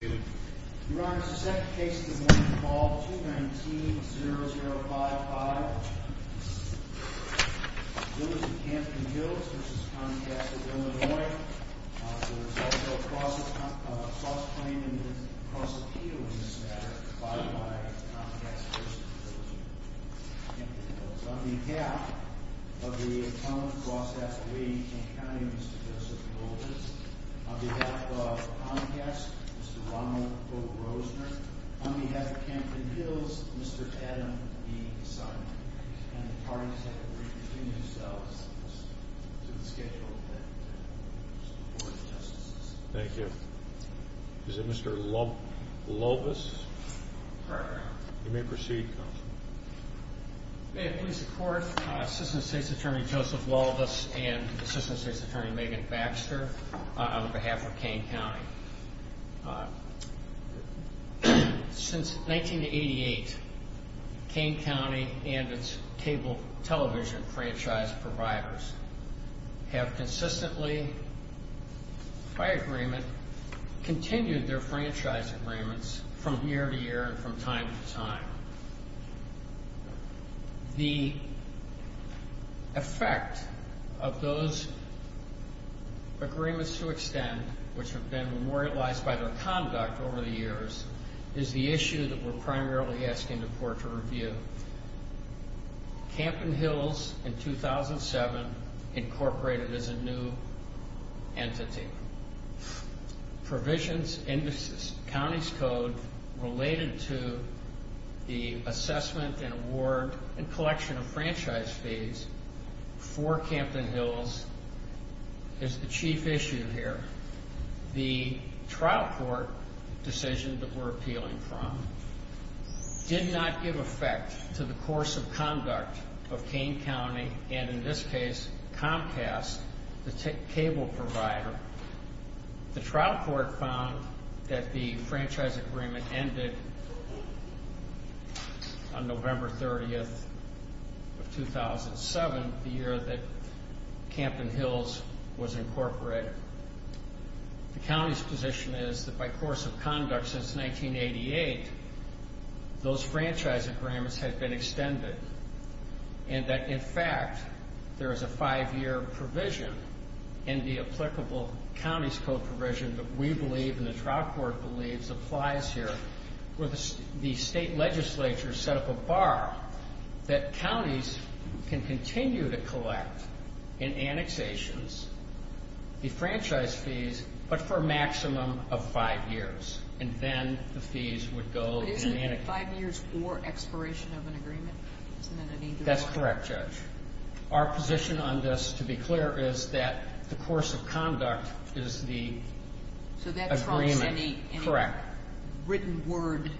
Your Honor, the second case of the morning is called 219-0055. Village of Campton Hills v. Comcast of Illinois. There is also a cross-claim and a cross-appeal in this matter by Comcast v. Campton Hills. On behalf of the Atomic Cross F3 in King County, Mr. Joseph Golders. On behalf of Comcast, Mr. Ronald O. Grosner. On behalf of Campton Hills, Mr. Adam B. Simon. And the parties have to reconvene themselves to the schedule that is before the Justices. Thank you. Is it Mr. Lovis? You may proceed, Counselor. May it please the Court, Assistant State's Attorney Joseph Lovis and Assistant State's Attorney Megan Baxter, on behalf of King County. Since 1988, King County and its cable television franchise providers have consistently, by agreement, continued their franchise agreements from year to year and from time to time. The effect of those agreements to extend, which have been memorialized by their conduct over the years, is the issue that we're primarily asking the Court to review. Campton Hills, in 2007, incorporated as a new entity. Provisions in the county's code related to the assessment and award and collection of franchise fees for Campton Hills is the chief issue here. The trial court decision that we're appealing from did not give effect to the course of conduct of King County, and in this case Comcast, the cable provider. The trial court found that the franchise agreement ended on November 30th of 2007, the year that Campton Hills was incorporated. The county's position is that by course of conduct since 1988, those franchise agreements had been extended and that, in fact, there is a five-year provision in the applicable county's code provision that we believe and the trial court believes applies here where the state legislature set up a bar that counties can continue to collect in annexations the franchise fees, but for a maximum of five years, and then the fees would go in annexations. Five years or expiration of an agreement? That's correct, Judge. Our position on this, to be clear, is that the course of conduct is the agreement. So that trumps any written word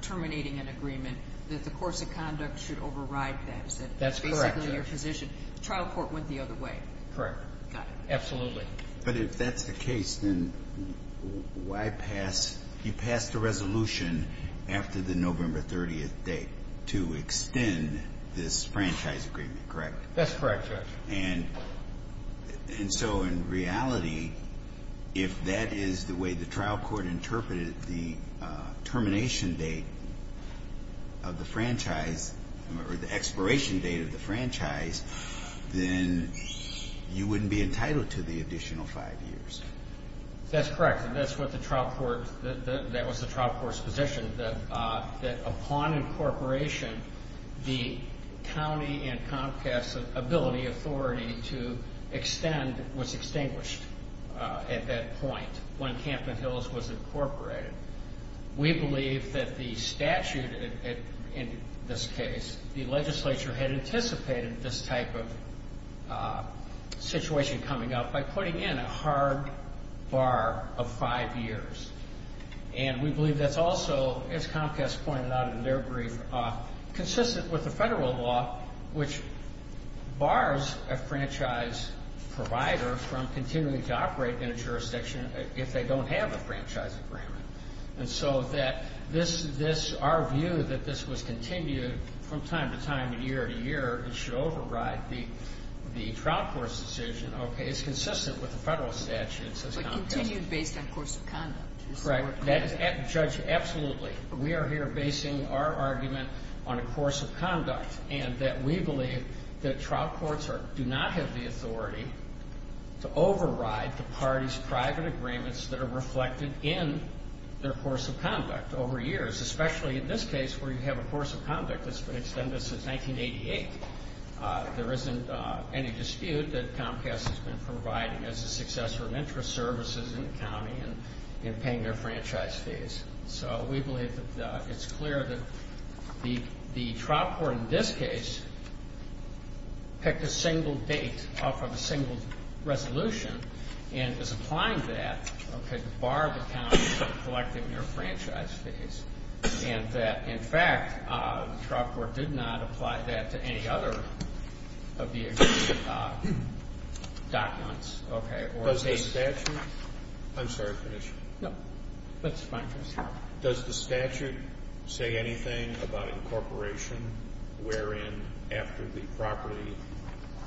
terminating an agreement, that the course of conduct should override that. That's correct, Judge. Basically, your position. The trial court went the other way. Correct. Got it. Absolutely. But if that's the case, then why pass? You passed a resolution after the November 30th date to extend this franchise agreement, correct? That's correct, Judge. And so in reality, if that is the way the trial court interpreted the termination date of the franchise or the expiration date of the franchise, then you wouldn't be entitled to the additional five years. That's correct, and that was the trial court's position, that upon incorporation, the county and Comcast's ability, authority to extend was extinguished at that point, when Campbell Hills was incorporated. We believe that the statute in this case, the legislature had anticipated this type of situation coming up by putting in a hard bar of five years. And we believe that's also, as Comcast pointed out in their brief, consistent with the federal law, which bars a franchise provider from continuing to operate in a jurisdiction if they don't have a franchise agreement. And so that this, our view that this was continued from time to time, year to year, it should override the trial court's decision. Okay, it's consistent with the federal statute, says Comcast. But continued based on course of conduct. Correct. Judge, absolutely. We are here basing our argument on a course of conduct, and that we believe that trial courts do not have the authority to override the party's private agreements that are reflected in their course of conduct over years, especially in this case where you have a course of conduct that's been extended since 1988. There isn't any dispute that Comcast has been providing as a successor of interest services in the county and paying their franchise fees. So we believe that it's clear that the trial court in this case picked a single date off of a single resolution and is applying that, okay, to bar the county from collecting their franchise fees, and that, in fact, the trial court did not apply that to any other of the existing documents. Okay. Does the statute? I'm sorry for the issue. No, that's fine, Judge. Does the statute say anything about incorporation wherein after the property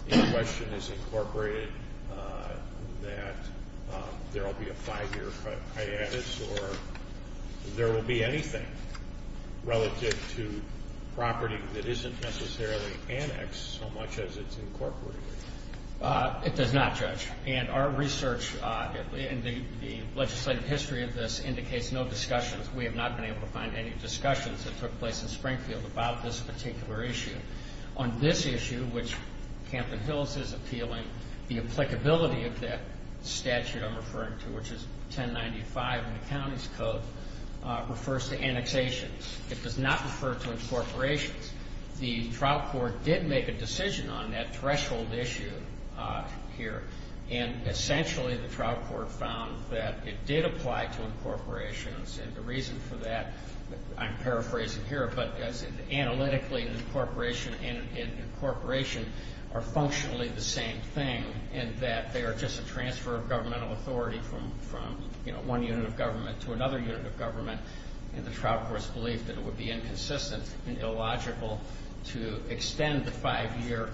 in question is incorporated that there will be a five-year hiatus, or there will be anything relative to property that isn't necessarily annexed so much as it's incorporated? It does not, Judge. And our research in the legislative history of this indicates no discussions. We have not been able to find any discussions that took place in Springfield about this particular issue. On this issue, which Camden Hills is appealing, the applicability of that statute I'm referring to, which is 1095 in the county's code, refers to annexations. It does not refer to incorporations. The trial court did make a decision on that threshold issue here, and essentially the trial court found that it did apply to incorporations, and the reason for that, I'm paraphrasing here, but analytically incorporation and incorporation are functionally the same thing, in that they are just a transfer of governmental authority from, you know, one unit of government to another unit of government, and the trial court's belief that it would be inconsistent and illogical to extend the five-year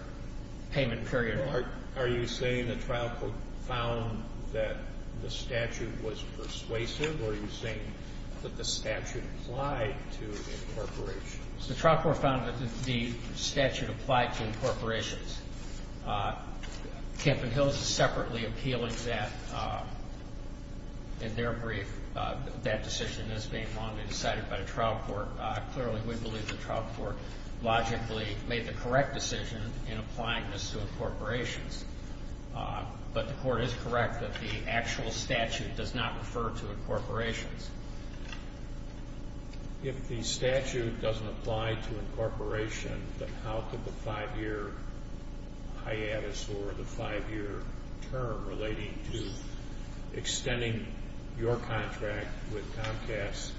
payment period. Are you saying the trial court found that the statute was persuasive, or are you saying that the statute applied to incorporations? The trial court found that the statute applied to incorporations. Camden Hills is separately appealing that in their brief. That decision is being longly decided by the trial court. Clearly, we believe the trial court logically made the correct decision in applying this to incorporations, but the court is correct that the actual statute does not refer to incorporations. If the statute doesn't apply to incorporation, then how could the five-year hiatus or the five-year term relating to extending your contract with Comcast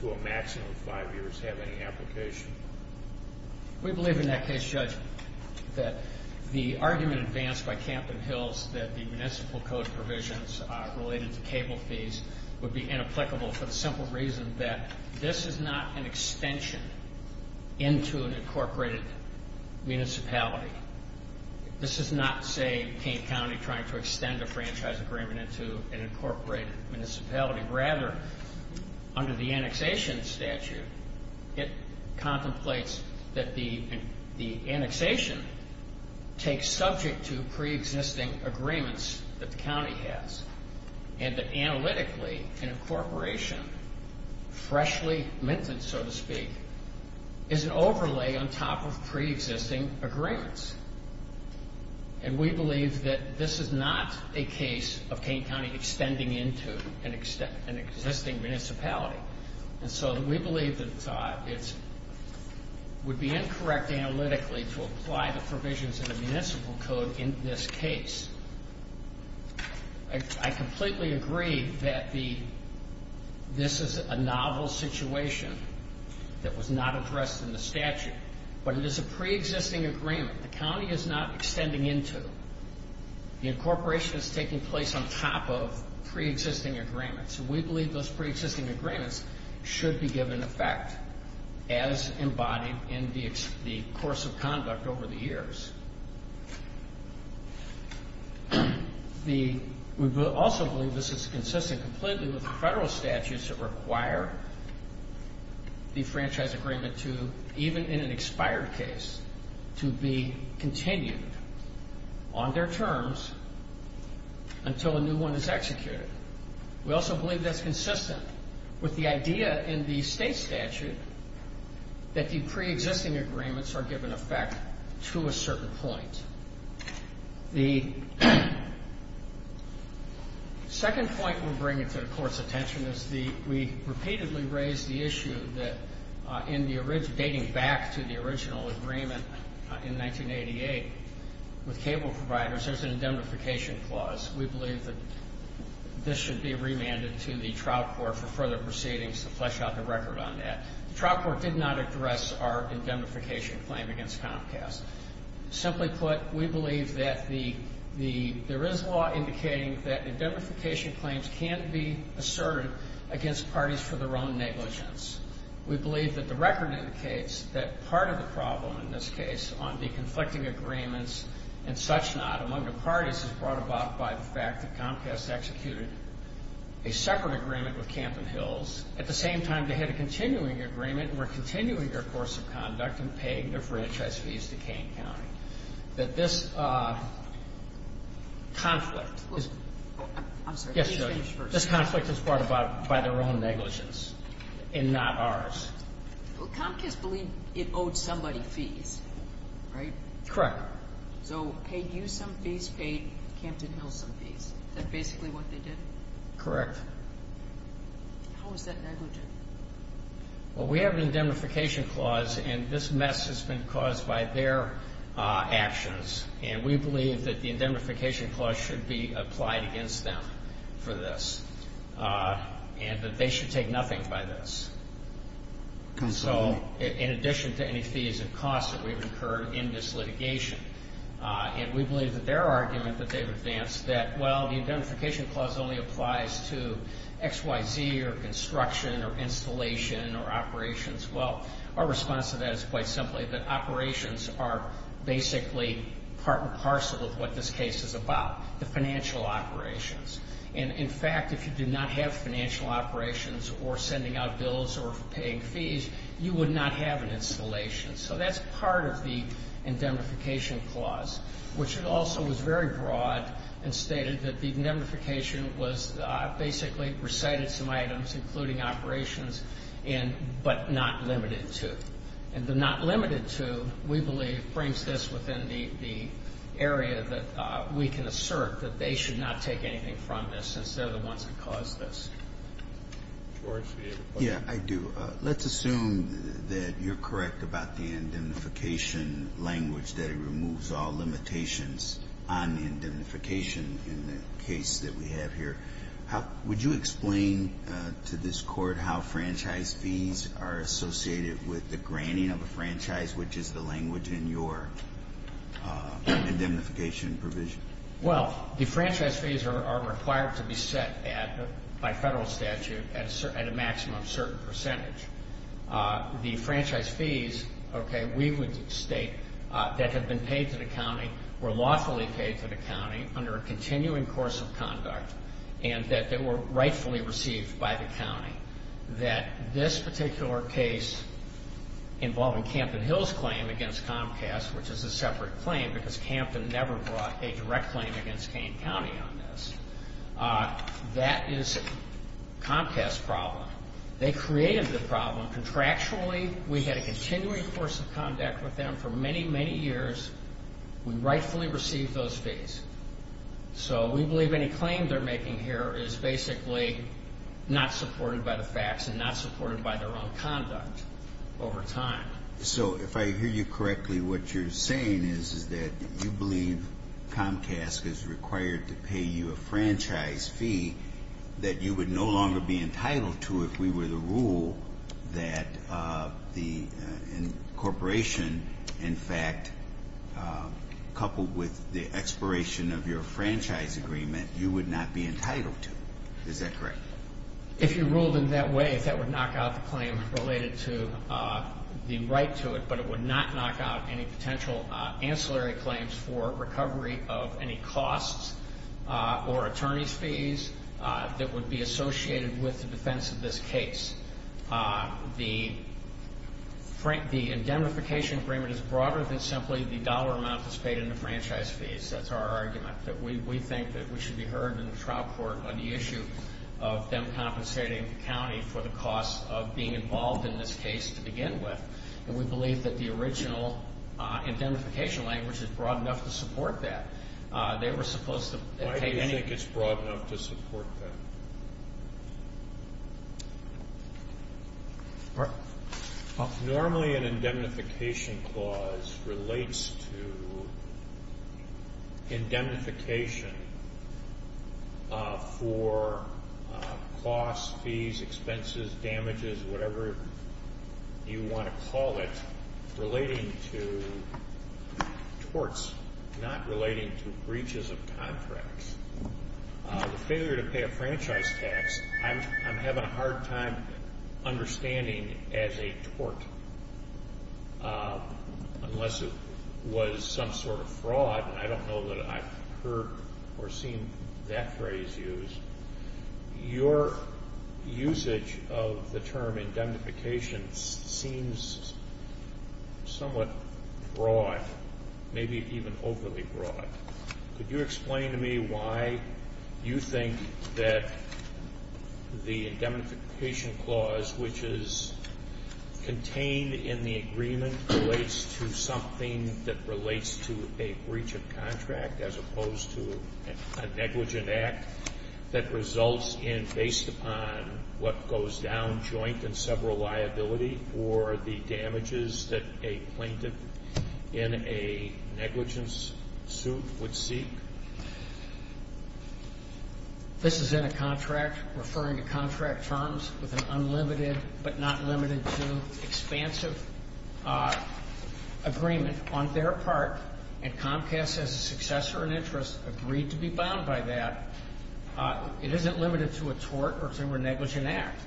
to a maximum of five years have any application? We believe in that case, Judge, that the argument advanced by Camden Hills that the municipal code provisions related to cable fees would be inapplicable for the simple reason that this is not an extension into an incorporated municipality. This is not, say, King County trying to extend a franchise agreement into an incorporated municipality. Rather, under the annexation statute, it contemplates that the annexation takes subject to preexisting agreements that the county has and that analytically, an incorporation, freshly minted, so to speak, is an overlay on top of preexisting agreements. And we believe that this is not a case of King County extending into an existing municipality. And so we believe that it would be incorrect analytically to apply the provisions of the municipal code in this case. I completely agree that this is a novel situation that was not addressed in the statute, but it is a preexisting agreement the county is not extending into. The incorporation is taking place on top of preexisting agreements, and we believe those preexisting agreements should be given effect as embodied in the course of conduct over the years. We also believe this is consistent completely with the federal statutes that require the franchise agreement to, even in an expired case, to be continued on their terms until a new one is executed. We also believe that's consistent with the idea in the state statute that the preexisting agreements are given effect to a certain point. The second point we're bringing to the Court's attention is we repeatedly raised the issue that dating back to the original agreement in 1988 with cable providers, there's an indemnification clause. We believe that this should be remanded to the trial court for further proceedings to flesh out the record on that. The trial court did not address our indemnification claim against Comcast. Simply put, we believe that there is law indicating that indemnification claims can't be asserted against parties for their own negligence. We believe that the record indicates that part of the problem in this case on the conflicting agreements and such not among the parties is brought about by the fact that Comcast executed a separate agreement with Camp and Hills. At the same time, they had a continuing agreement, and we're continuing our course of conduct in paying their franchise fees to Kane County. That this conflict is brought about by their own negligence and not ours. Well, Comcast believed it owed somebody fees, right? Correct. So paid you some fees, paid Camp and Hills some fees. Is that basically what they did? Correct. How is that negligent? Well, we have an indemnification clause, and this mess has been caused by their actions, and we believe that the indemnification clause should be applied against them for this, and that they should take nothing by this. So in addition to any fees and costs that we've incurred in this litigation, and we believe that their argument that they've advanced that, well, the indemnification clause only applies to XYZ or construction or installation or operations. Well, our response to that is quite simply that operations are basically part and parcel of what this case is about, the financial operations. And, in fact, if you do not have financial operations or sending out bills or paying fees, you would not have an installation. So that's part of the indemnification clause, which also was very broad and stated that the indemnification was basically recited some items, including operations, but not limited to. And the not limited to, we believe, brings this within the area that we can assert that they should not take anything from this, since they're the ones that caused this. George, do you have a question? Yeah, I do. Let's assume that you're correct about the indemnification language, that it removes all limitations on indemnification in the case that we have here. Would you explain to this Court how franchise fees are associated with the granting of a franchise, which is the language in your indemnification provision? Well, the franchise fees are required to be set at, by federal statute, at a maximum certain percentage. The franchise fees, okay, we would state that have been paid to the county, were lawfully paid to the county under a continuing course of conduct, and that they were rightfully received by the county. That this particular case involving Campton Hills' claim against Comcast, which is a separate claim because Campton never brought a direct claim against Kane County on this, that is Comcast's problem. They created the problem contractually. We had a continuing course of conduct with them for many, many years. We rightfully received those fees. So we believe any claim they're making here is basically not supported by the facts and not supported by their own conduct over time. So if I hear you correctly, what you're saying is, is that you believe Comcast is required to pay you a franchise fee that you would no longer be entitled to if we were to rule that the incorporation, in fact, coupled with the expiration of your franchise agreement, you would not be entitled to. Is that correct? If you ruled in that way, that would knock out the claim related to the right to it, but it would not knock out any potential ancillary claims for recovery of any costs or attorney's fees that would be associated with the defense of this case. The indemnification agreement is broader than simply the dollar amount that's paid in the franchise fees. That's our argument, that we think that we should be heard in the trial court on the issue of them compensating the county for the costs of being involved in this case to begin with. And we believe that the original indemnification language is broad enough to support that. They were supposed to take any of it. Why do you think it's broad enough to support that? Normally an indemnification clause relates to indemnification for costs, fees, expenses, damages, whatever you want to call it, relating to torts, not relating to breaches of contracts. The failure to pay a franchise tax, I'm having a hard time understanding as a tort, unless it was some sort of fraud, and I don't know that I've heard or seen that phrase used. Your usage of the term indemnification seems somewhat broad, maybe even overly broad. Could you explain to me why you think that the indemnification clause, which is contained in the agreement, relates to something that relates to a breach of contract as opposed to a negligent act that results in, based upon what goes down joint in several liability, or the damages that a plaintiff in a negligence suit would seek? This is in a contract, referring to contract terms, with an unlimited but not limited to expansive agreement on their part, and Comcast, as a successor in interest, agreed to be bound by that. It isn't limited to a tort or a negligent act.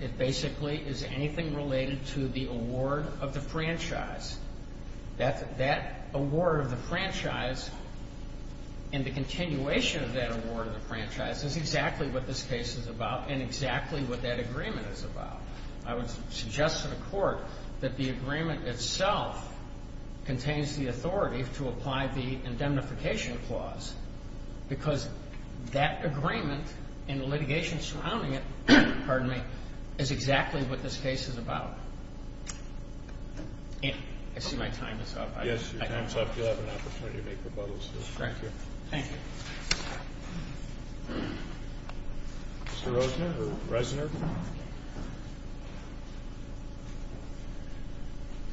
It basically is anything related to the award of the franchise. That award of the franchise and the continuation of that award of the franchise is exactly what this case is about and exactly what that agreement is about. I would suggest to the Court that the agreement itself contains the authority to apply the indemnification clause because that agreement and the litigation surrounding it is exactly what this case is about. I see my time is up. Yes, your time is up. You'll have an opportunity to make rebuttals. Thank you. Thank you. Mr. Rosener?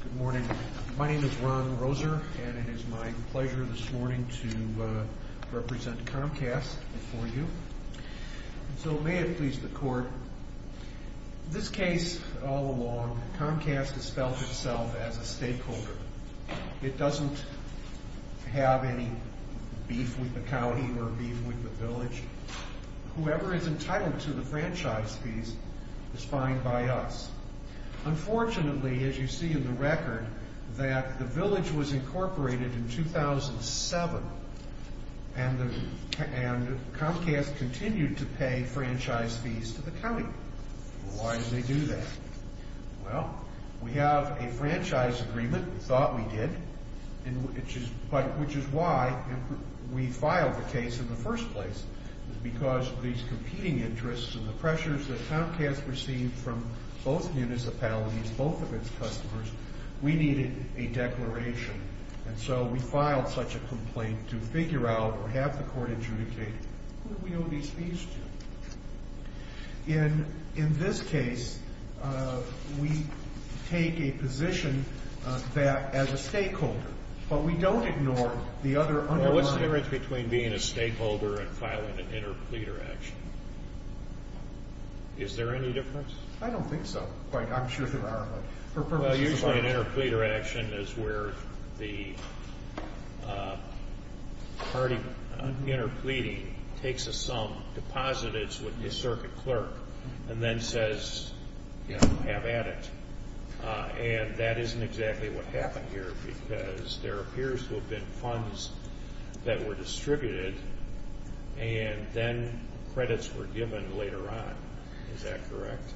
Good morning. My name is Ron Rosener, and it is my pleasure this morning to represent Comcast before you. So may it please the Court, this case all along, Comcast has felt itself as a stakeholder. It doesn't have any beef with the county or beef with the village. Whoever is entitled to the franchise fees is fined by us. Unfortunately, as you see in the record, that the village was incorporated in 2007 and Comcast continued to pay franchise fees to the county. Why did they do that? Well, we have a franchise agreement, we thought we did, which is why we filed the case in the first place, because of these competing interests and the pressures that Comcast received from both municipalities, both of its customers. We needed a declaration. And so we filed such a complaint to figure out or have the Court adjudicate who we owe these fees to. In this case, we take a position that as a stakeholder, but we don't ignore the other underlying... Well, what's the difference between being a stakeholder and filing an interpleader action? Is there any difference? I don't think so. I'm sure there are, but for purposes of... Well, usually an interpleader action is where the party interpleading takes a sum, deposits it with the circuit clerk, and then says, you know, have at it. And that isn't exactly what happened here, because there appears to have been funds that were distributed, and then credits were given later on. Is that correct?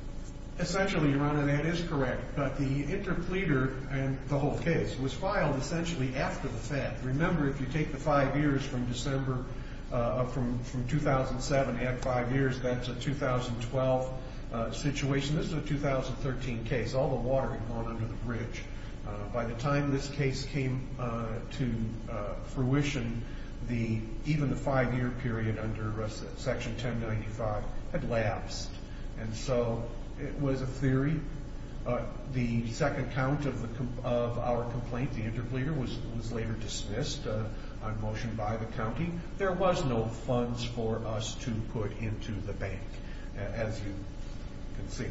Essentially, your Honor, that is correct. But the interpleader and the whole case was filed essentially after the Fed. Remember, if you take the five years from December of 2007, add five years, that's a 2012 situation. This is a 2013 case. All the water had gone under the bridge. By the time this case came to fruition, even the five-year period under Section 1095 had lapsed. And so it was a theory. The second count of our complaint, the interpleader, was later dismissed on motion by the county. There was no funds for us to put into the bank, as you can see.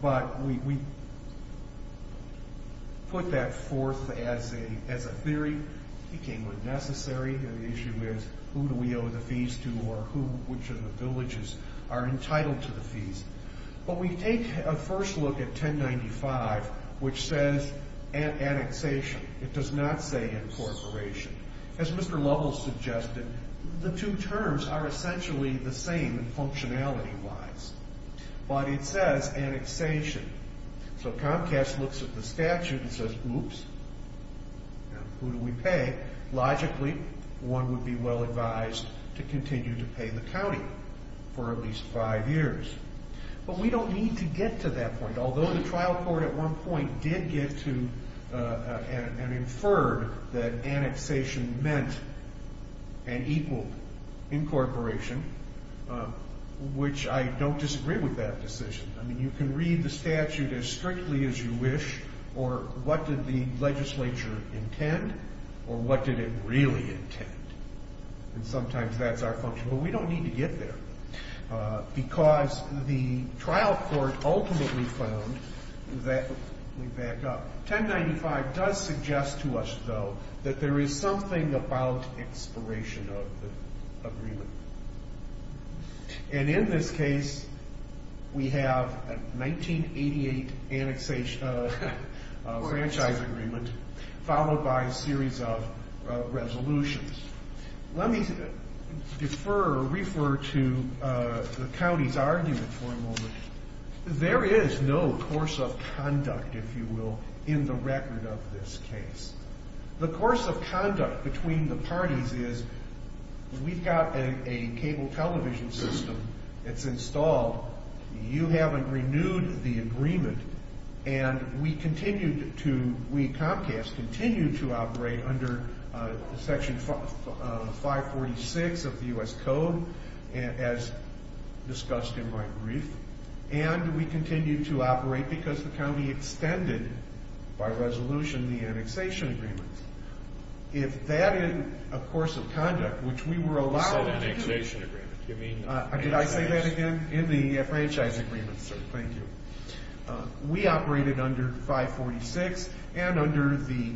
But we put that forth as a theory. It became unnecessary. The issue is who do we owe the fees to or which of the villages are entitled to the fees. But we take a first look at 1095, which says annexation. It does not say incorporation. As Mr. Lovell suggested, the two terms are essentially the same functionality-wise. But it says annexation. So Comcast looks at the statute and says, oops, who do we pay? Logically, one would be well advised to continue to pay the county for at least five years. But we don't need to get to that point. Although the trial court at one point did get to and inferred that annexation meant an equal incorporation, which I don't disagree with that decision. I mean, you can read the statute as strictly as you wish, or what did the legislature intend or what did it really intend. And sometimes that's our function. But we don't need to get there because the trial court ultimately found that we back up. 1095 does suggest to us, though, that there is something about expiration of the agreement. And in this case, we have a 1988 franchise agreement followed by a series of resolutions. Let me defer or refer to the county's argument for a moment. There is no course of conduct, if you will, in the record of this case. The course of conduct between the parties is we've got a cable television system that's installed. You haven't renewed the agreement. And we continue to operate under Section 546 of the U.S. Code, as discussed in my brief. And we continue to operate because the county extended, by resolution, the annexation agreement. If that in a course of conduct, which we were allowed to do. Did I say that again? In the franchise agreement, sir. Thank you. We operated under 546 and under the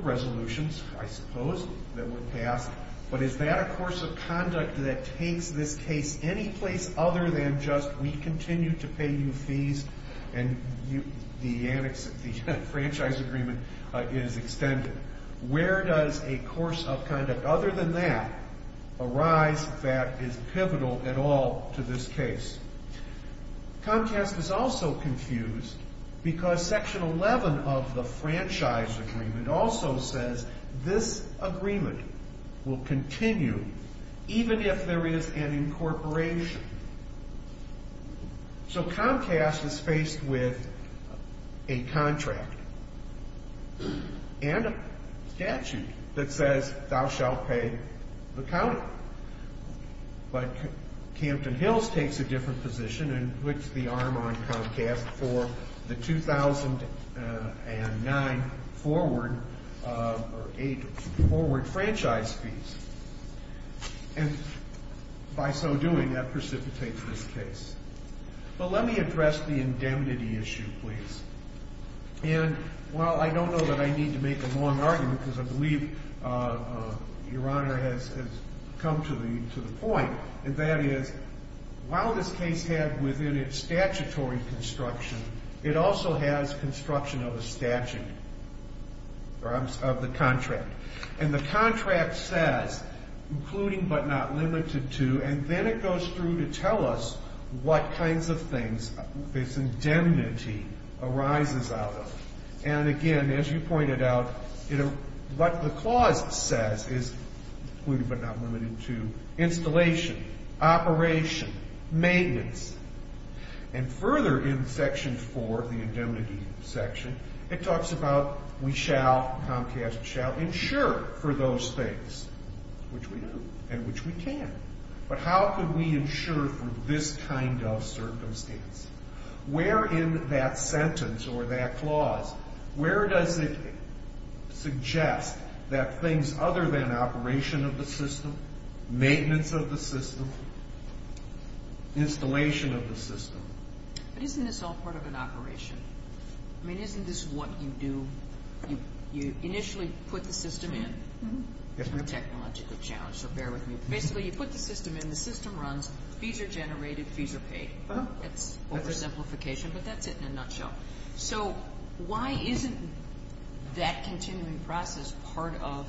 resolutions, I suppose, that were passed. But is that a course of conduct that takes this case any place other than just we continue to pay you fees and the franchise agreement is extended? Where does a course of conduct other than that arise that is pivotal at all to this case? Comcast is also confused because Section 11 of the franchise agreement also says this agreement will continue even if there is an incorporation. So Comcast is faced with a contract and a statute that says thou shalt pay the county. But Campton Hills takes a different position and puts the arm on Comcast for the 2009 forward or 8 forward franchise fees. And by so doing, that precipitates this case. But let me address the indemnity issue, please. And while I don't know that I need to make a long argument, because I believe Your Honor has come to the point, that is, while this case had within it statutory construction, it also has construction of a statute of the contract. And the contract says, including but not limited to, and then it goes through to tell us what kinds of things this indemnity arises out of. And again, as you pointed out, what the clause says is including but not limited to installation, operation, maintenance. And further in Section 4, the indemnity section, it talks about we shall, Comcast shall, insure for those things, and which we can. But how could we insure for this kind of circumstance? Where in that sentence or that clause, where does it suggest that things other than operation of the system, maintenance of the system, installation of the system? But isn't this all part of an operation? I mean, isn't this what you do? You initially put the system in. It's a technological challenge, so bear with me. Basically, you put the system in, the system runs, fees are generated, fees are paid. It's oversimplification, but that's it in a nutshell. So why isn't that continuing process part of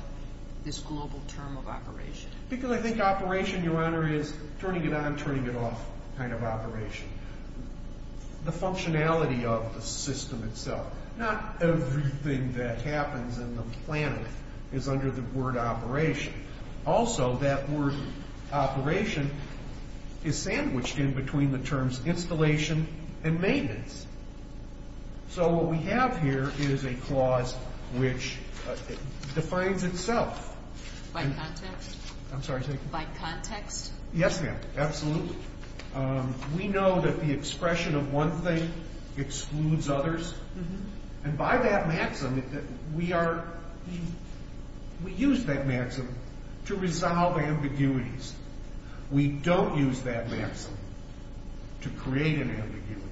this global term of operation? Because I think operation, Your Honor, is turning it on, turning it off kind of operation. The functionality of the system itself, not everything that happens in the planet is under the word operation. Also, that word operation is sandwiched in between the terms installation and maintenance. So what we have here is a clause which defines itself. By context? I'm sorry. By context? Yes, ma'am, absolutely. We know that the expression of one thing excludes others. And by that maxim, we use that maxim to resolve ambiguities. We don't use that maxim to create an ambiguity.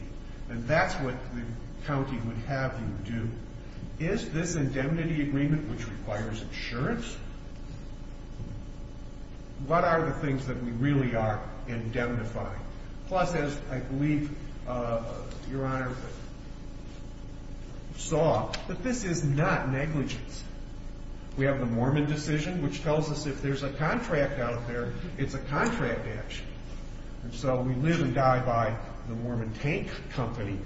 And that's what the county would have you do. Is this indemnity agreement, which requires insurance? What are the things that we really are indemnifying? Plus, as I believe Your Honor saw, that this is not negligence. We have the Mormon decision, which tells us if there's a contract out there, it's a contract action. And so we literally die by the Mormon tank company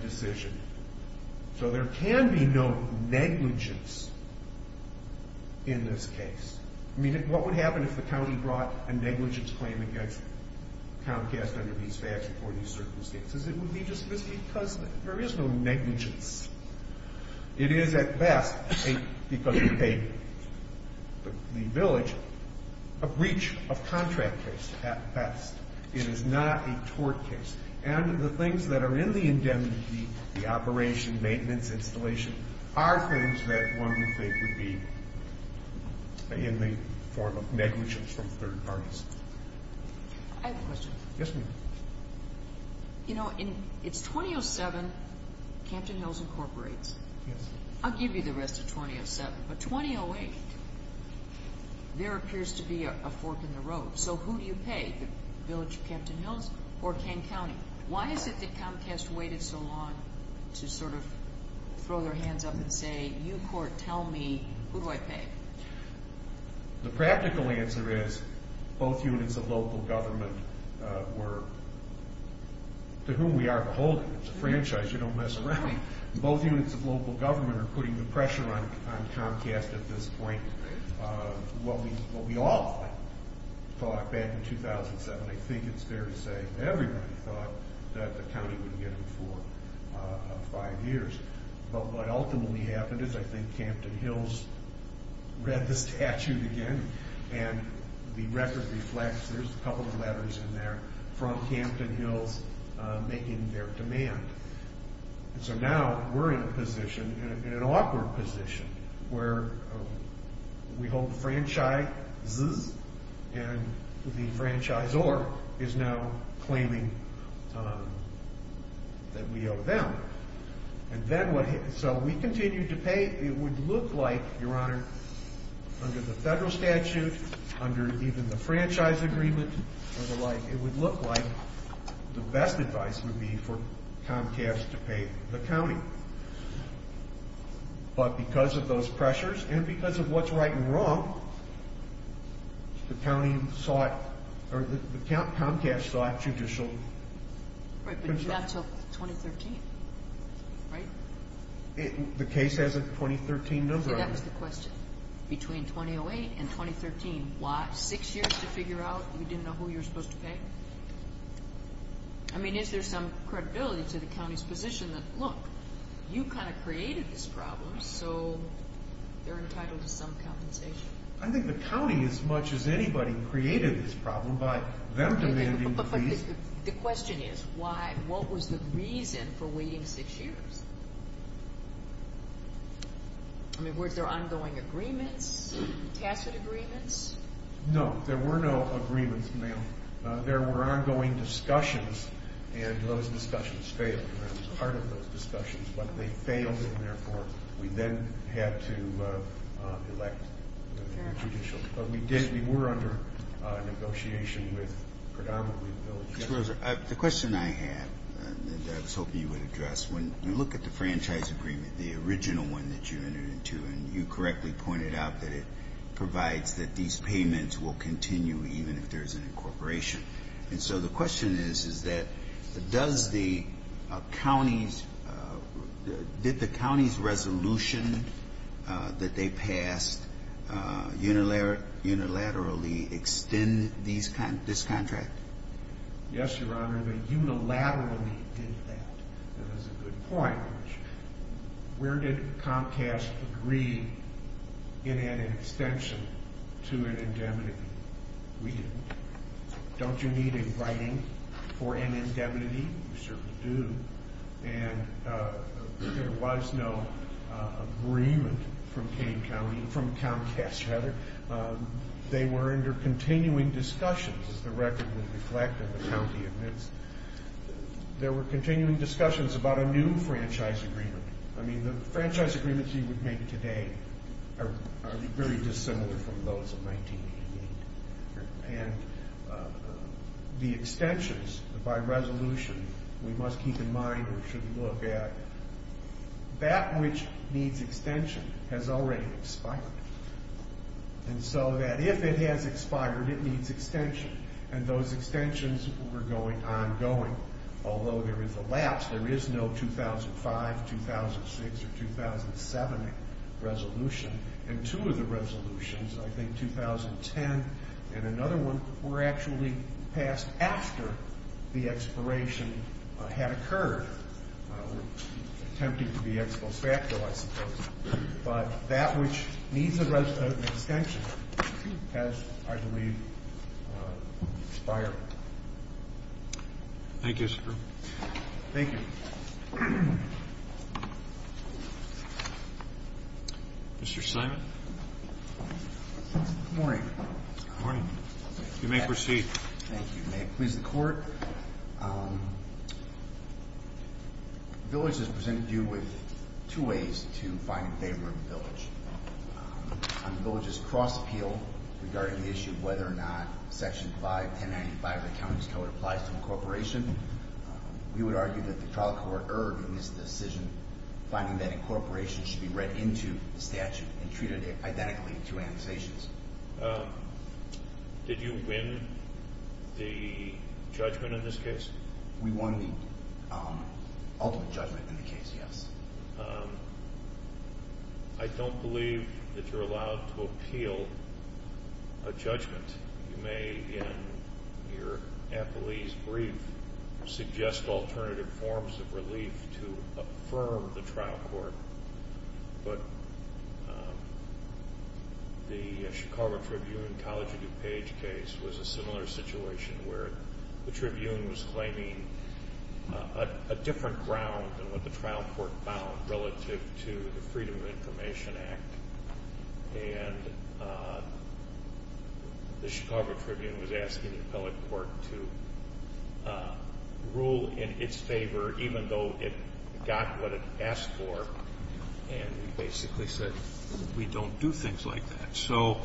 decision. So there can be no negligence in this case. I mean, what would happen if the county brought a negligence claim against Comcast under these facts or these circumstances? It would be just because there is no negligence. It is at best, because of the village, a breach of contract case at best. It is not a tort case. And the things that are in the indemnity, the operation, maintenance, installation, are things that one would think would be in the form of negligence from third parties. I have a question. Yes, ma'am. You know, it's 2007, Campton Hills Incorporates. Yes. I'll give you the rest of 2007. But 2008, there appears to be a fork in the road. So who do you pay, the village of Campton Hills or Kane County? Why is it that Comcast waited so long to sort of throw their hands up and say, you court, tell me, who do I pay? The practical answer is both units of local government were, to whom we are beholden. It's a franchise. You don't mess around. Both units of local government are putting the pressure on Comcast at this point. What we all thought back in 2007, I think it's fair to say, everyone thought that the county would get them for five years. But what ultimately happened is I think Campton Hills read the statute again, and the record reflects there's a couple of letters in there from Campton Hills making their demand. So now we're in a position, in an awkward position, where we hold the franchisees and the franchisor is now claiming that we owe them. So we continue to pay. It would look like, Your Honor, under the federal statute, under even the franchise agreement and the like, it would look like the best advice would be for Comcast to pay the county. But because of those pressures and because of what's right and wrong, the county sought, or the Comcast sought judicial consent. Right, but not until 2013, right? The case has a 2013 number on it. See, that was the question. Between 2008 and 2013, what? Six years to figure out you didn't know who you were supposed to pay? I mean, is there some credibility to the county's position that, look, you kind of created this problem, so they're entitled to some compensation? I think the county, as much as anybody, created this problem by them demanding the fees. But the question is, why? What was the reason for waiting six years? I mean, were there ongoing agreements, tacit agreements? No. There were no agreements, ma'am. There were ongoing discussions, and those discussions failed. I was part of those discussions, but they failed, and therefore we then had to elect a judicial. But we did, we were under negotiation with predominantly the village. Mr. Roser, the question I have, and I was hoping you would address, when you look at the franchise agreement, the original one that you entered into, and you correctly pointed out that it provides that these payments will continue, even if there is an incorporation. And so the question is, is that does the county's, did the county's resolution that they passed unilaterally extend this contract? Yes, Your Honor, they unilaterally did that. That is a good point. Where did Comcast agree in an extension to an indemnity? We didn't. Don't you need a writing for an indemnity? You certainly do. And there was no agreement from Kane County, from Comcast, Heather. They were under continuing discussions, as the record would reflect, and the county admits. There were continuing discussions about a new franchise agreement. I mean, the franchise agreements you would make today are very dissimilar from those of 1988. And the extensions, by resolution, we must keep in mind, or should look at that which needs extension has already expired. And so that if it has expired, it needs extension. And those extensions were ongoing. Although there is a lapse, there is no 2005, 2006, or 2007 resolution. And two of the resolutions, I think 2010 and another one, were actually passed after the expiration had occurred, attempting to be expo facto, I suppose. But that which needs an extension has, I believe, expired. Thank you, sir. Thank you. Mr. Simon? Good morning. Good morning. You may proceed. Thank you. May it please the Court. The village has presented you with two ways to find in favor of the village. On the village's cross appeal regarding the issue of whether or not Section 51095, the county's code, applies to incorporation, we would argue that the trial court erred in this decision, finding that incorporation should be read into the statute and treated identically to annotations. Did you win the judgment in this case? We won the ultimate judgment in the case, yes. I don't believe that you're allowed to appeal a judgment. You may, in your appellee's brief, suggest alternative forms of relief to affirm the trial court. But the Chicago Tribune-College of DuPage case was a similar situation where the Tribune was claiming a different ground than what the trial court found relative to the Freedom of Information Act. And the Chicago Tribune was asking the appellate court to rule in its favor, even though it got what it asked for and basically said, we don't do things like that. So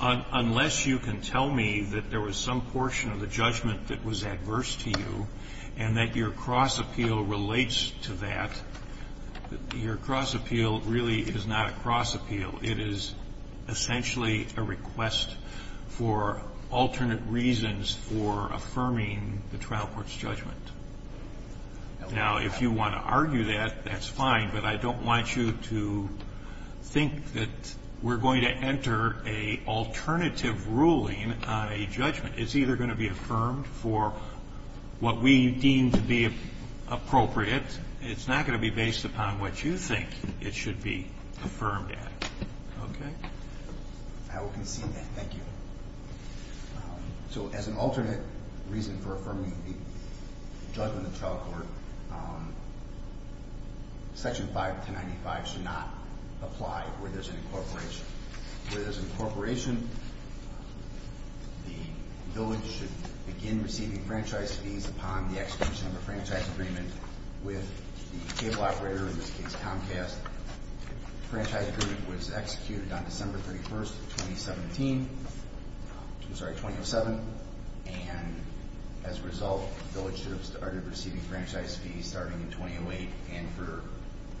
unless you can tell me that there was some portion of the judgment that was adverse to you and that your cross appeal relates to that, your cross appeal really is not a cross appeal. It is essentially a request for alternate reasons for affirming the trial court's judgment. Now, if you want to argue that, that's fine. But I don't want you to think that we're going to enter an alternative ruling on a judgment. It's either going to be affirmed for what we deem to be appropriate. It's not going to be based upon what you think it should be affirmed at. Okay? I will concede that. Thank you. So as an alternate reason for affirming the judgment of the trial court, Section 51095 should not apply where there's an incorporation. Where there's an incorporation, the village should begin receiving franchise fees upon the execution of a franchise agreement with the cable operator, in this case Comcast. The franchise agreement was executed on December 31st, 2017. I'm sorry, 2007. And as a result, the village should have started receiving franchise fees starting in 2008 and for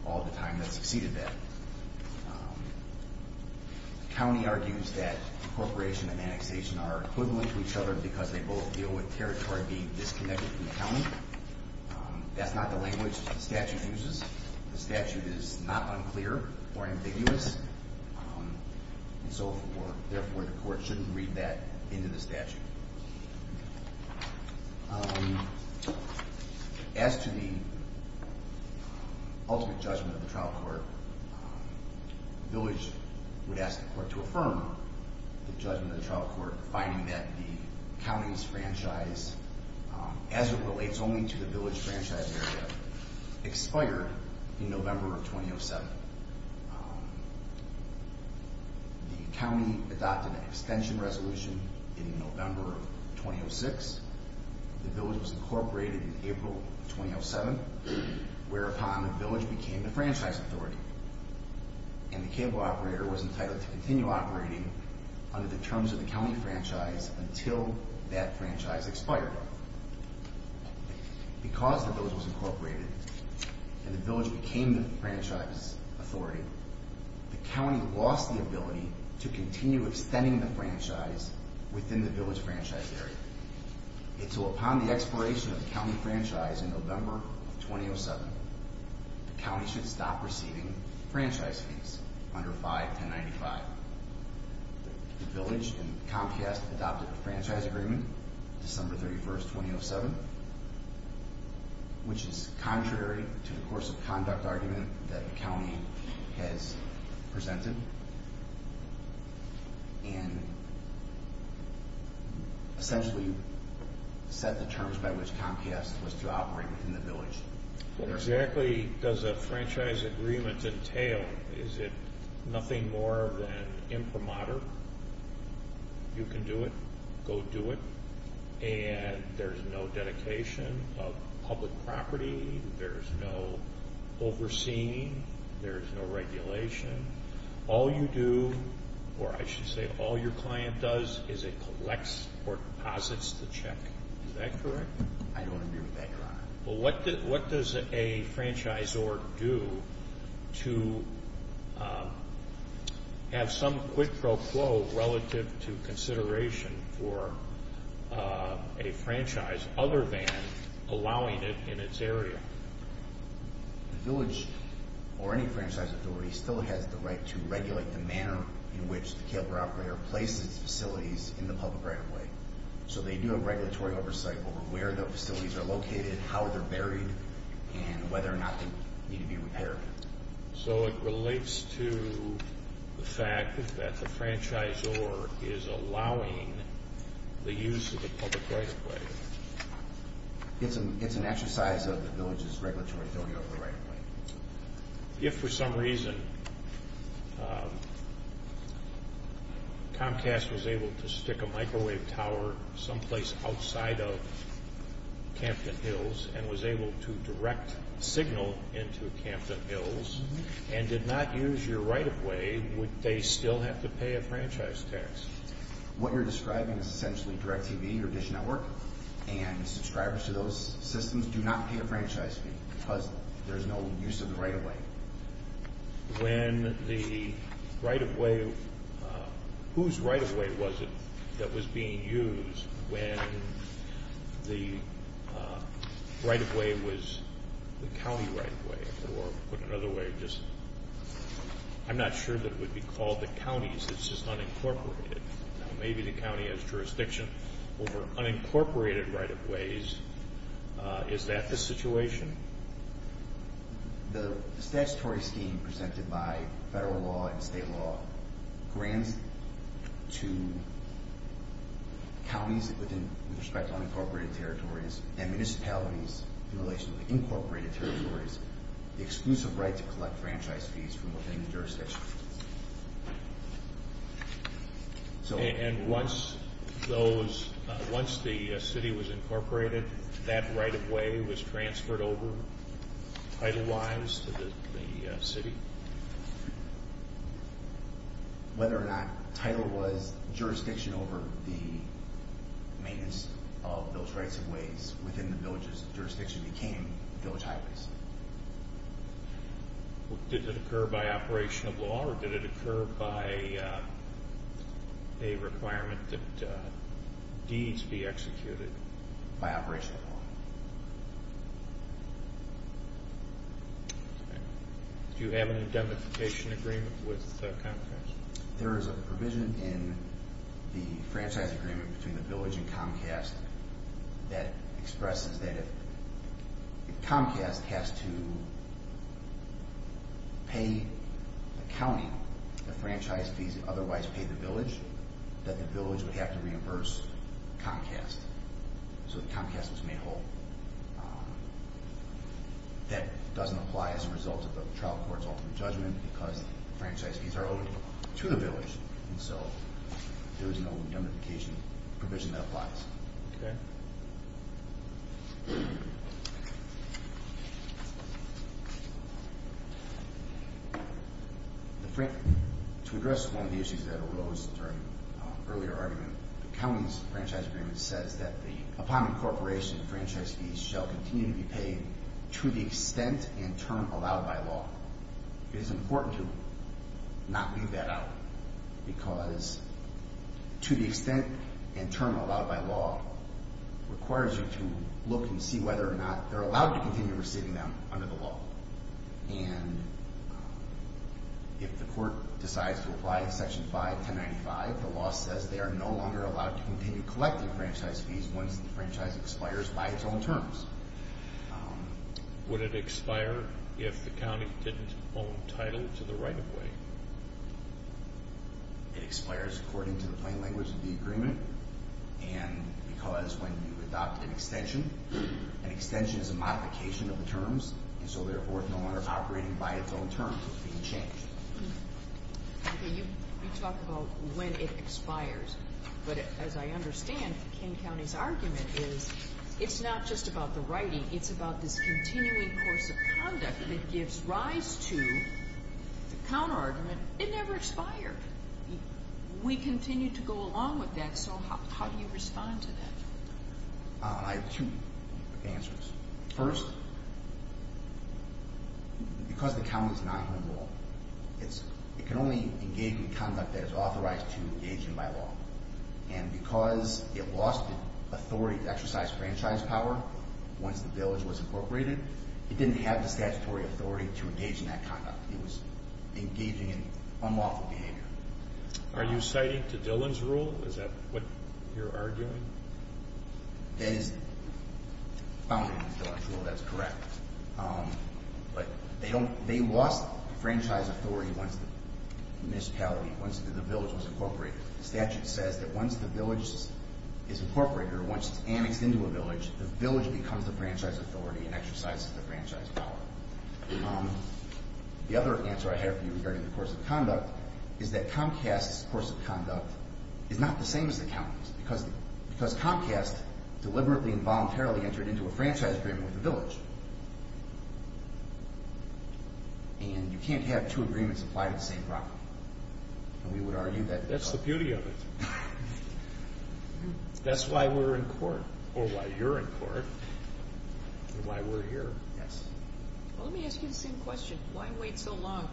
all the time that succeeded that. The county argues that incorporation and annexation are equivalent to each other because they both deal with territory being disconnected from the county. That's not the language the statute uses. The statute is not unclear or ambiguous, and so therefore the court shouldn't read that into the statute. As to the ultimate judgment of the trial court, the village would ask the court to affirm the judgment of the trial court, finding that the county's franchise, as it relates only to the village franchise area, expired in November of 2007. The county adopted an extension resolution in November of 2006. The village was incorporated in April of 2007, whereupon the village became the franchise authority, and the cable operator was entitled to continue operating under the terms of the county franchise until that franchise expired. Because the village was incorporated, and the village became the franchise authority, the county lost the ability to continue extending the franchise within the village franchise area. And so upon the expiration of the county franchise in November of 2007, the county should stop receiving franchise fees under 51095. The village and Comcast adopted a franchise agreement on December 31, 2007, which is contrary to the course of conduct argument that the county has presented, and essentially set the terms by which Comcast was to operate within the village. What exactly does a franchise agreement entail? Is it nothing more than imprimatur? You can do it. Go do it. And there's no dedication of public property. There's no overseeing. There's no regulation. All you do, or I should say all your client does, is it collects or deposits the check. Is that correct? I don't agree with that, Your Honor. Well, what does a franchisor do to have some quid pro quo relative to consideration for a franchise, other than allowing it in its area? The village, or any franchise authority, still has the right to regulate the manner in which the cable operator places facilities in the public right of way. So they do have regulatory oversight over where the facilities are located, how they're buried, and whether or not they need to be repaired. So it relates to the fact that the franchisor is allowing the use of the public right of way. It's an exercise of the village's regulatory authority over the right of way. If for some reason Comcast was able to stick a microwave tower someplace outside of Campton Hills, and was able to direct signal into Campton Hills, and did not use your right of way, would they still have to pay a franchise tax? What you're describing is essentially DirecTV or Dish Network, and subscribers to those systems do not pay a franchise fee because there's no use of the right of way. When the right of way, whose right of way was it that was being used when the right of way was the county right of way, or put another way, I'm not sure that it would be called the counties. It's just unincorporated. Maybe the county has jurisdiction over unincorporated right of ways. Is that the situation? The statutory scheme presented by federal law and state law grants to counties with respect to unincorporated territories and municipalities in relation to incorporated territories the exclusive right to collect franchise fees from within the jurisdiction. Once the city was incorporated, that right of way was transferred over title-wise to the city? Whether or not title-wise jurisdiction over the maintenance of those rights of ways within the village's jurisdiction became village highways. Did it occur by operation of law, or did it occur by a requirement that deeds be executed? By operation of law. Do you have any identification agreement with Comcast? There is a provision in the franchise agreement between the village and Comcast that expresses that if Comcast has to pay the county the franchise fees and otherwise pay the village, that the village would have to reimburse Comcast. So that Comcast was made whole. That doesn't apply as a result of the trial court's ultimate judgment because the franchise fees are owed to the village, and so there is no notification provision that applies. To address one of the issues that arose during an earlier argument, the county's franchise agreement says that the upon incorporation of franchise fees shall continue to be paid to the extent and term allowed by law. It is important to not leave that out because to the extent and term allowed by law requires you to look and see whether or not they're allowed to continue receiving them under the law. And if the court decides to apply Section 51095, the law says they are no longer allowed to continue collecting franchise fees once the franchise expires by its own terms. Would it expire if the county didn't own title to the right-of-way? It expires according to the plain language of the agreement and because when you adopt an extension, an extension is a modification of the terms and so therefore it's no longer operating by its own terms. It's being changed. You talk about when it expires, but as I understand, King County's argument is it's not just about the writing, it's about this continuing course of conduct that gives rise to the counterargument, it never expired. We continue to go along with that, so how do you respond to that? I have two answers. First, because the county is not in the rule, it can only engage in conduct that is authorized to engage in by law. And because it lost the authority to exercise franchise power once the village was incorporated, it didn't have the statutory authority to engage in that conduct. It was engaging in unlawful behavior. Are you citing to Dillon's rule? Is that what you're arguing? That is found in Dillon's rule, that's correct. But they lost franchise authority once the municipality, once the village was incorporated. The statute says that once the village is incorporated or once it's annexed into a village, the village becomes the franchise authority and exercises the franchise power. The other answer I have for you regarding the course of conduct is that Comcast's course of conduct is not the same as the county's because Comcast deliberately and voluntarily entered into a franchise agreement with the village. And you can't have two agreements apply to the same property. That's the beauty of it. That's why we're in court, or why you're in court, and why we're here. Let me ask you the same question. Why wait so long?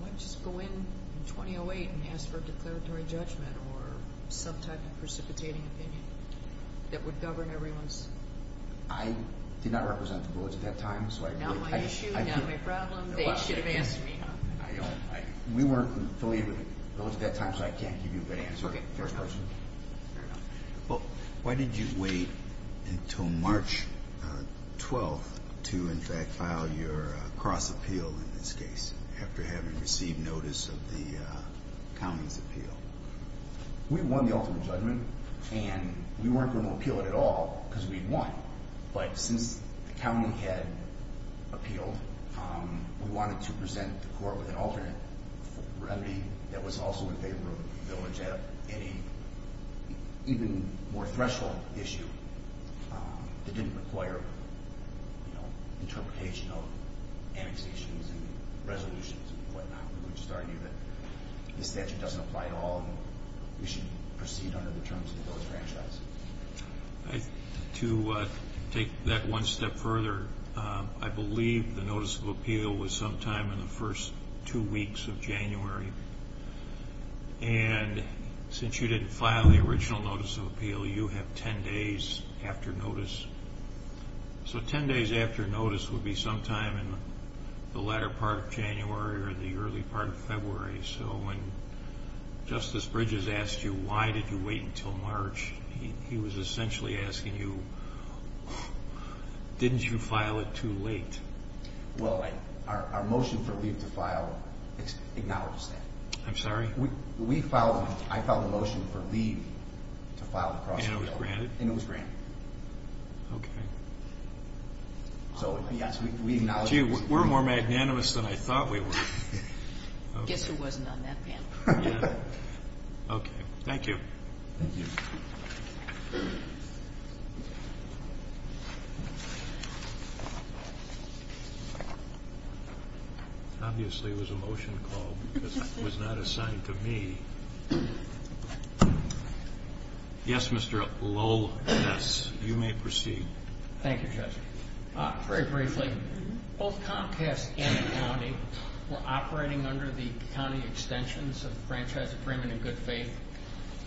Why not just go in in 2008 and ask for a declaratory judgment or some type of precipitating opinion that would govern everyone's? I did not represent the village at that time, so I agree. Not my issue, not my problem. They should have asked me. We weren't affiliated with the village at that time, so I can't give you a good answer in the first person. Fair enough. Why did you wait until March 12th to, in fact, file your cross-appeal in this case after having received notice of the county's appeal? We won the ultimate judgment, and we weren't going to appeal it at all because we'd won. But since the county had appealed, we wanted to present the court with an alternate remedy that was also in favor of the village at any even more threshold issue that didn't require interpretation of annexations and resolutions and whatnot. We just argued that the statute doesn't apply to all of them. We should proceed under the terms of the village franchise. To take that one step further, I believe the notice of appeal was sometime in the first two weeks of January. Will you have 10 days after notice? So 10 days after notice would be sometime in the latter part of January or the early part of February. So when Justice Bridges asked you, why did you wait until March, he was essentially asking you, didn't you file it too late? Well, our motion for leave to file acknowledges that. I'm sorry? I filed a motion for leave to file the cross-referral. And it was granted? And it was granted. Okay. So, yes, we acknowledge that. Gee, we're more magnanimous than I thought we were. Guess who wasn't on that panel. Yeah. Okay, thank you. Thank you. Thank you. Obviously it was a motion to call because it was not assigned to me. Yes, Mr. Lowell? Yes. You may proceed. Thank you, Judge. Very briefly, both Comcast and the county were operating under the county extensions of franchise agreement in good faith.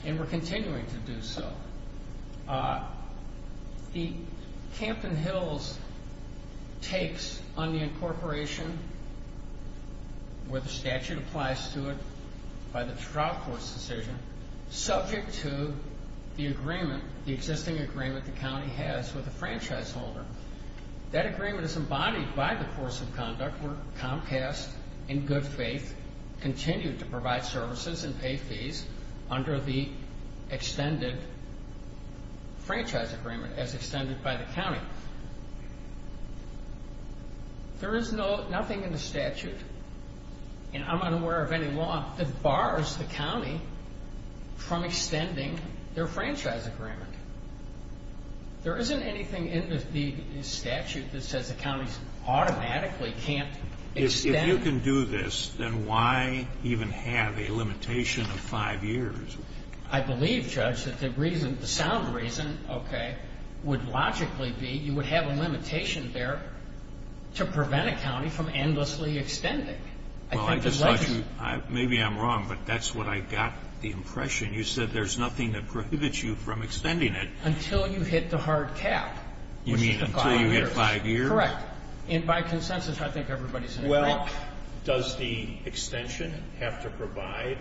And we're continuing to do so. The Campton Hills takes on the incorporation, where the statute applies to it, by the trial court's decision, subject to the agreement, the existing agreement the county has with the franchise holder. That agreement is embodied by the course of conduct where Comcast, in good faith, continued to provide services and pay fees under the extended franchise agreement as extended by the county. There is nothing in the statute, and I'm unaware of any law, that bars the county from extending their franchise agreement. There isn't anything in the statute that says the county automatically can't extend. If you can do this, then why even have a limitation of five years? I believe, Judge, that the sound reason, okay, would logically be you would have a limitation there to prevent a county from endlessly extending. Maybe I'm wrong, but that's what I got the impression. You said there's nothing that prohibits you from extending it. Until you hit the hard cap. You mean until you hit five years? Correct. And by consensus, I think everybody's in agreement. Well, does the extension have to provide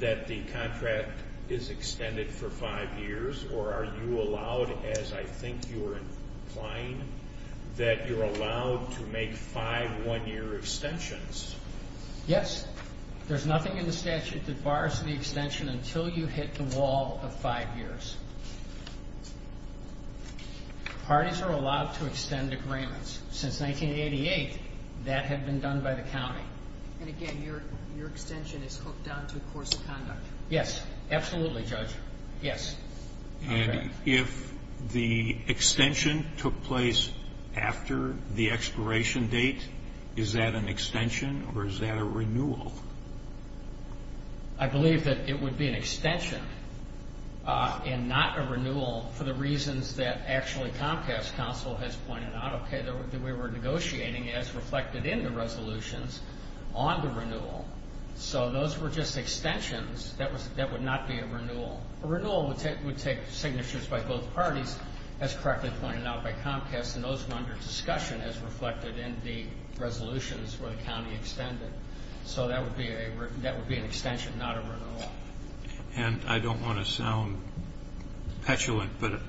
that the contract is extended for five years, or are you allowed, as I think you're implying, that you're allowed to make five one-year extensions? Yes. There's nothing in the statute that bars the extension until you hit the wall of five years. Parties are allowed to extend agreements. Since 1988, that had been done by the county. And, again, your extension is hooked on to a course of conduct. Yes. Absolutely, Judge. Yes. And if the extension took place after the expiration date, is that an extension or is that a renewal? I believe that it would be an extension. And not a renewal for the reasons that, actually, Comcast Council has pointed out, okay, that we were negotiating as reflected in the resolutions on the renewal. So those were just extensions. That would not be a renewal. A renewal would take signatures by both parties, as correctly pointed out by Comcast, and those were under discussion as reflected in the resolutions where the county extended. So that would be an extension, not a renewal. And I don't want to sound petulant, but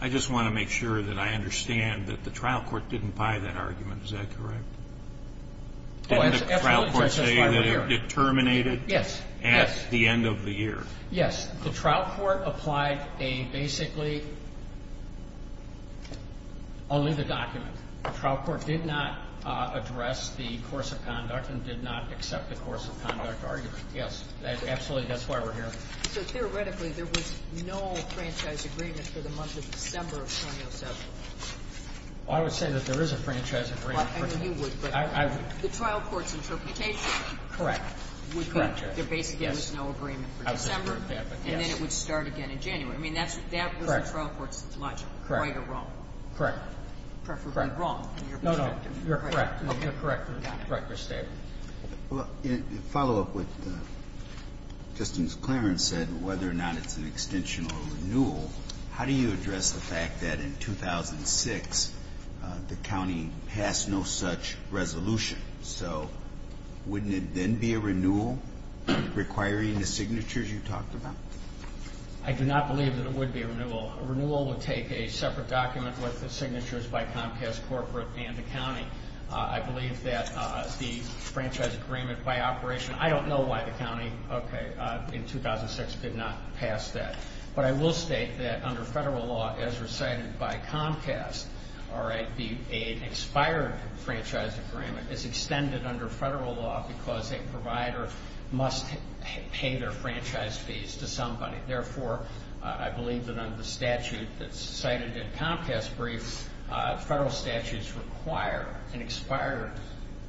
I just want to make sure that I understand that the trial court didn't buy that argument. Is that correct? Didn't the trial court say that it terminated at the end of the year? Yes. The trial court applied a basically only the document. The trial court did not address the course of conduct and did not accept the course of conduct argument. Yes. Absolutely. That's why we're here. So theoretically, there was no franchise agreement for the month of December of 2007. I would say that there is a franchise agreement. I mean, you would, but the trial court's interpretation? Correct. There basically was no agreement for December, and then it would start again in January. I mean, that was the trial court's logic, right or wrong. Correct. Preferably wrong. No, no. You're correct. You're correct in your statement. Well, to follow up with what Justice Clarence said, whether or not it's an extension or renewal, how do you address the fact that in 2006 the county passed no such resolution? So wouldn't it then be a renewal requiring the signatures you talked about? I do not believe that it would be a renewal. A renewal would take a separate document with the signatures by Comcast Corporate and the county. I believe that the franchise agreement by operation, I don't know why the county in 2006 did not pass that, but I will state that under federal law, as recited by Comcast, the expired franchise agreement is extended under federal law because a provider must pay their franchise fees to somebody. Therefore, I believe that under the statute that's cited in Comcast's brief, federal statutes require an expired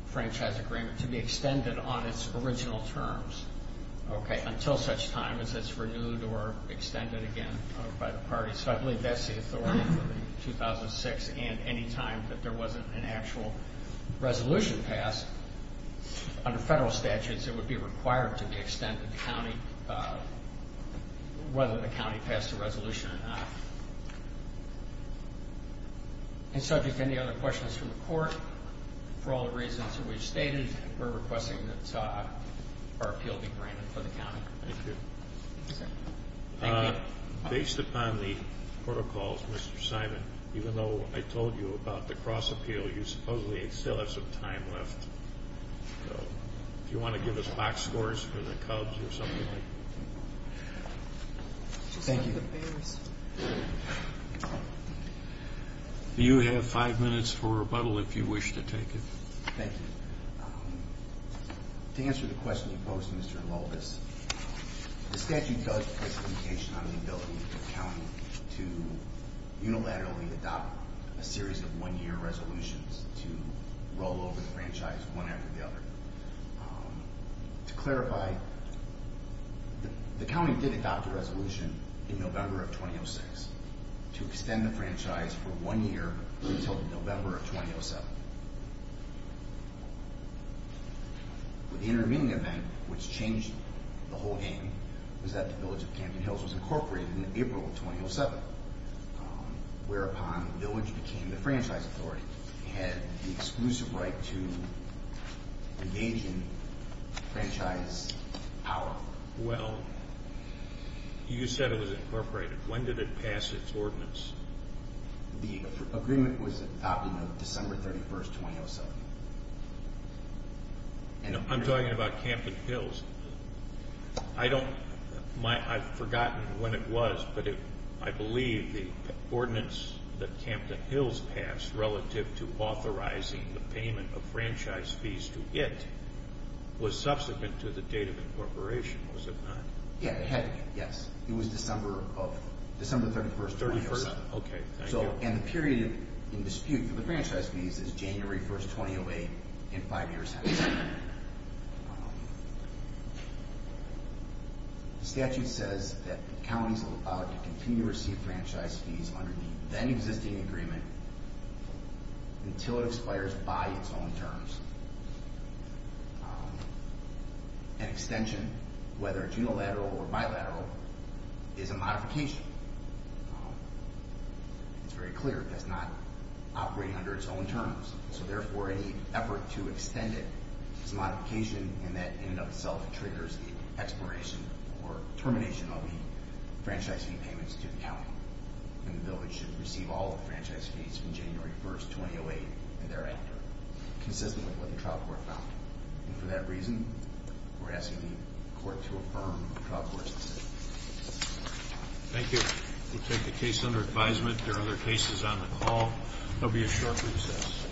franchise agreement to be extended on its original terms until such time as it's renewed or extended again by the party. So I believe that's the authority for 2006, and any time that there wasn't an actual resolution passed, under federal statutes it would be required to be extended whether the county passed a resolution or not. In subject to any other questions from the court, for all the reasons that we've stated, we're requesting that our appeal be granted for the county. Thank you. Based upon the protocols, Mr. Simon, even though I told you about the cross-appeal, you supposedly still have some time left. Do you want to give us box scores for the Cubs or something like that? Thank you. You have five minutes for rebuttal if you wish to take it. Thank you. To answer the question you posed, Mr. Lulvis, the statute does place limitation on the ability of the county to unilaterally adopt a series of one-year resolutions to roll over the franchise one after the other. To clarify, the county did adopt a resolution in November of 2006 to extend the franchise for one year until November of 2007. The intervening event, which changed the whole game, was that the Village of Camden Hills was incorporated in April of 2007, whereupon the Village became the franchise authority. It had the exclusive right to engage in franchise power. Well, you said it was incorporated. When did it pass its ordinance? The agreement was adopted on December 31, 2007. I'm talking about Camden Hills. I've forgotten when it was, but I believe the ordinance that Camden Hills passed relative to authorizing the payment of franchise fees to it was subsequent to the date of incorporation, was it not? Okay, thank you. And the period in dispute for the franchise fees is January 1, 2008, and five years have elapsed. The statute says that counties are allowed to continue to receive franchise fees under the then-existing agreement until it expires by its own terms. An extension, whether it's unilateral or bilateral, is a modification. It's very clear it does not operate under its own terms, so therefore any effort to extend it is a modification, and that in and of itself triggers the expiration or termination of the franchise fee payments to the county. And the Village should receive all the franchise fees from January 1, 2008 and thereafter, consistent with what the trial court found. And for that reason, we're asking the court to affirm the trial court's decision. Thank you. We'll take the case under advisement. There are other cases on the call. There'll be a short recess.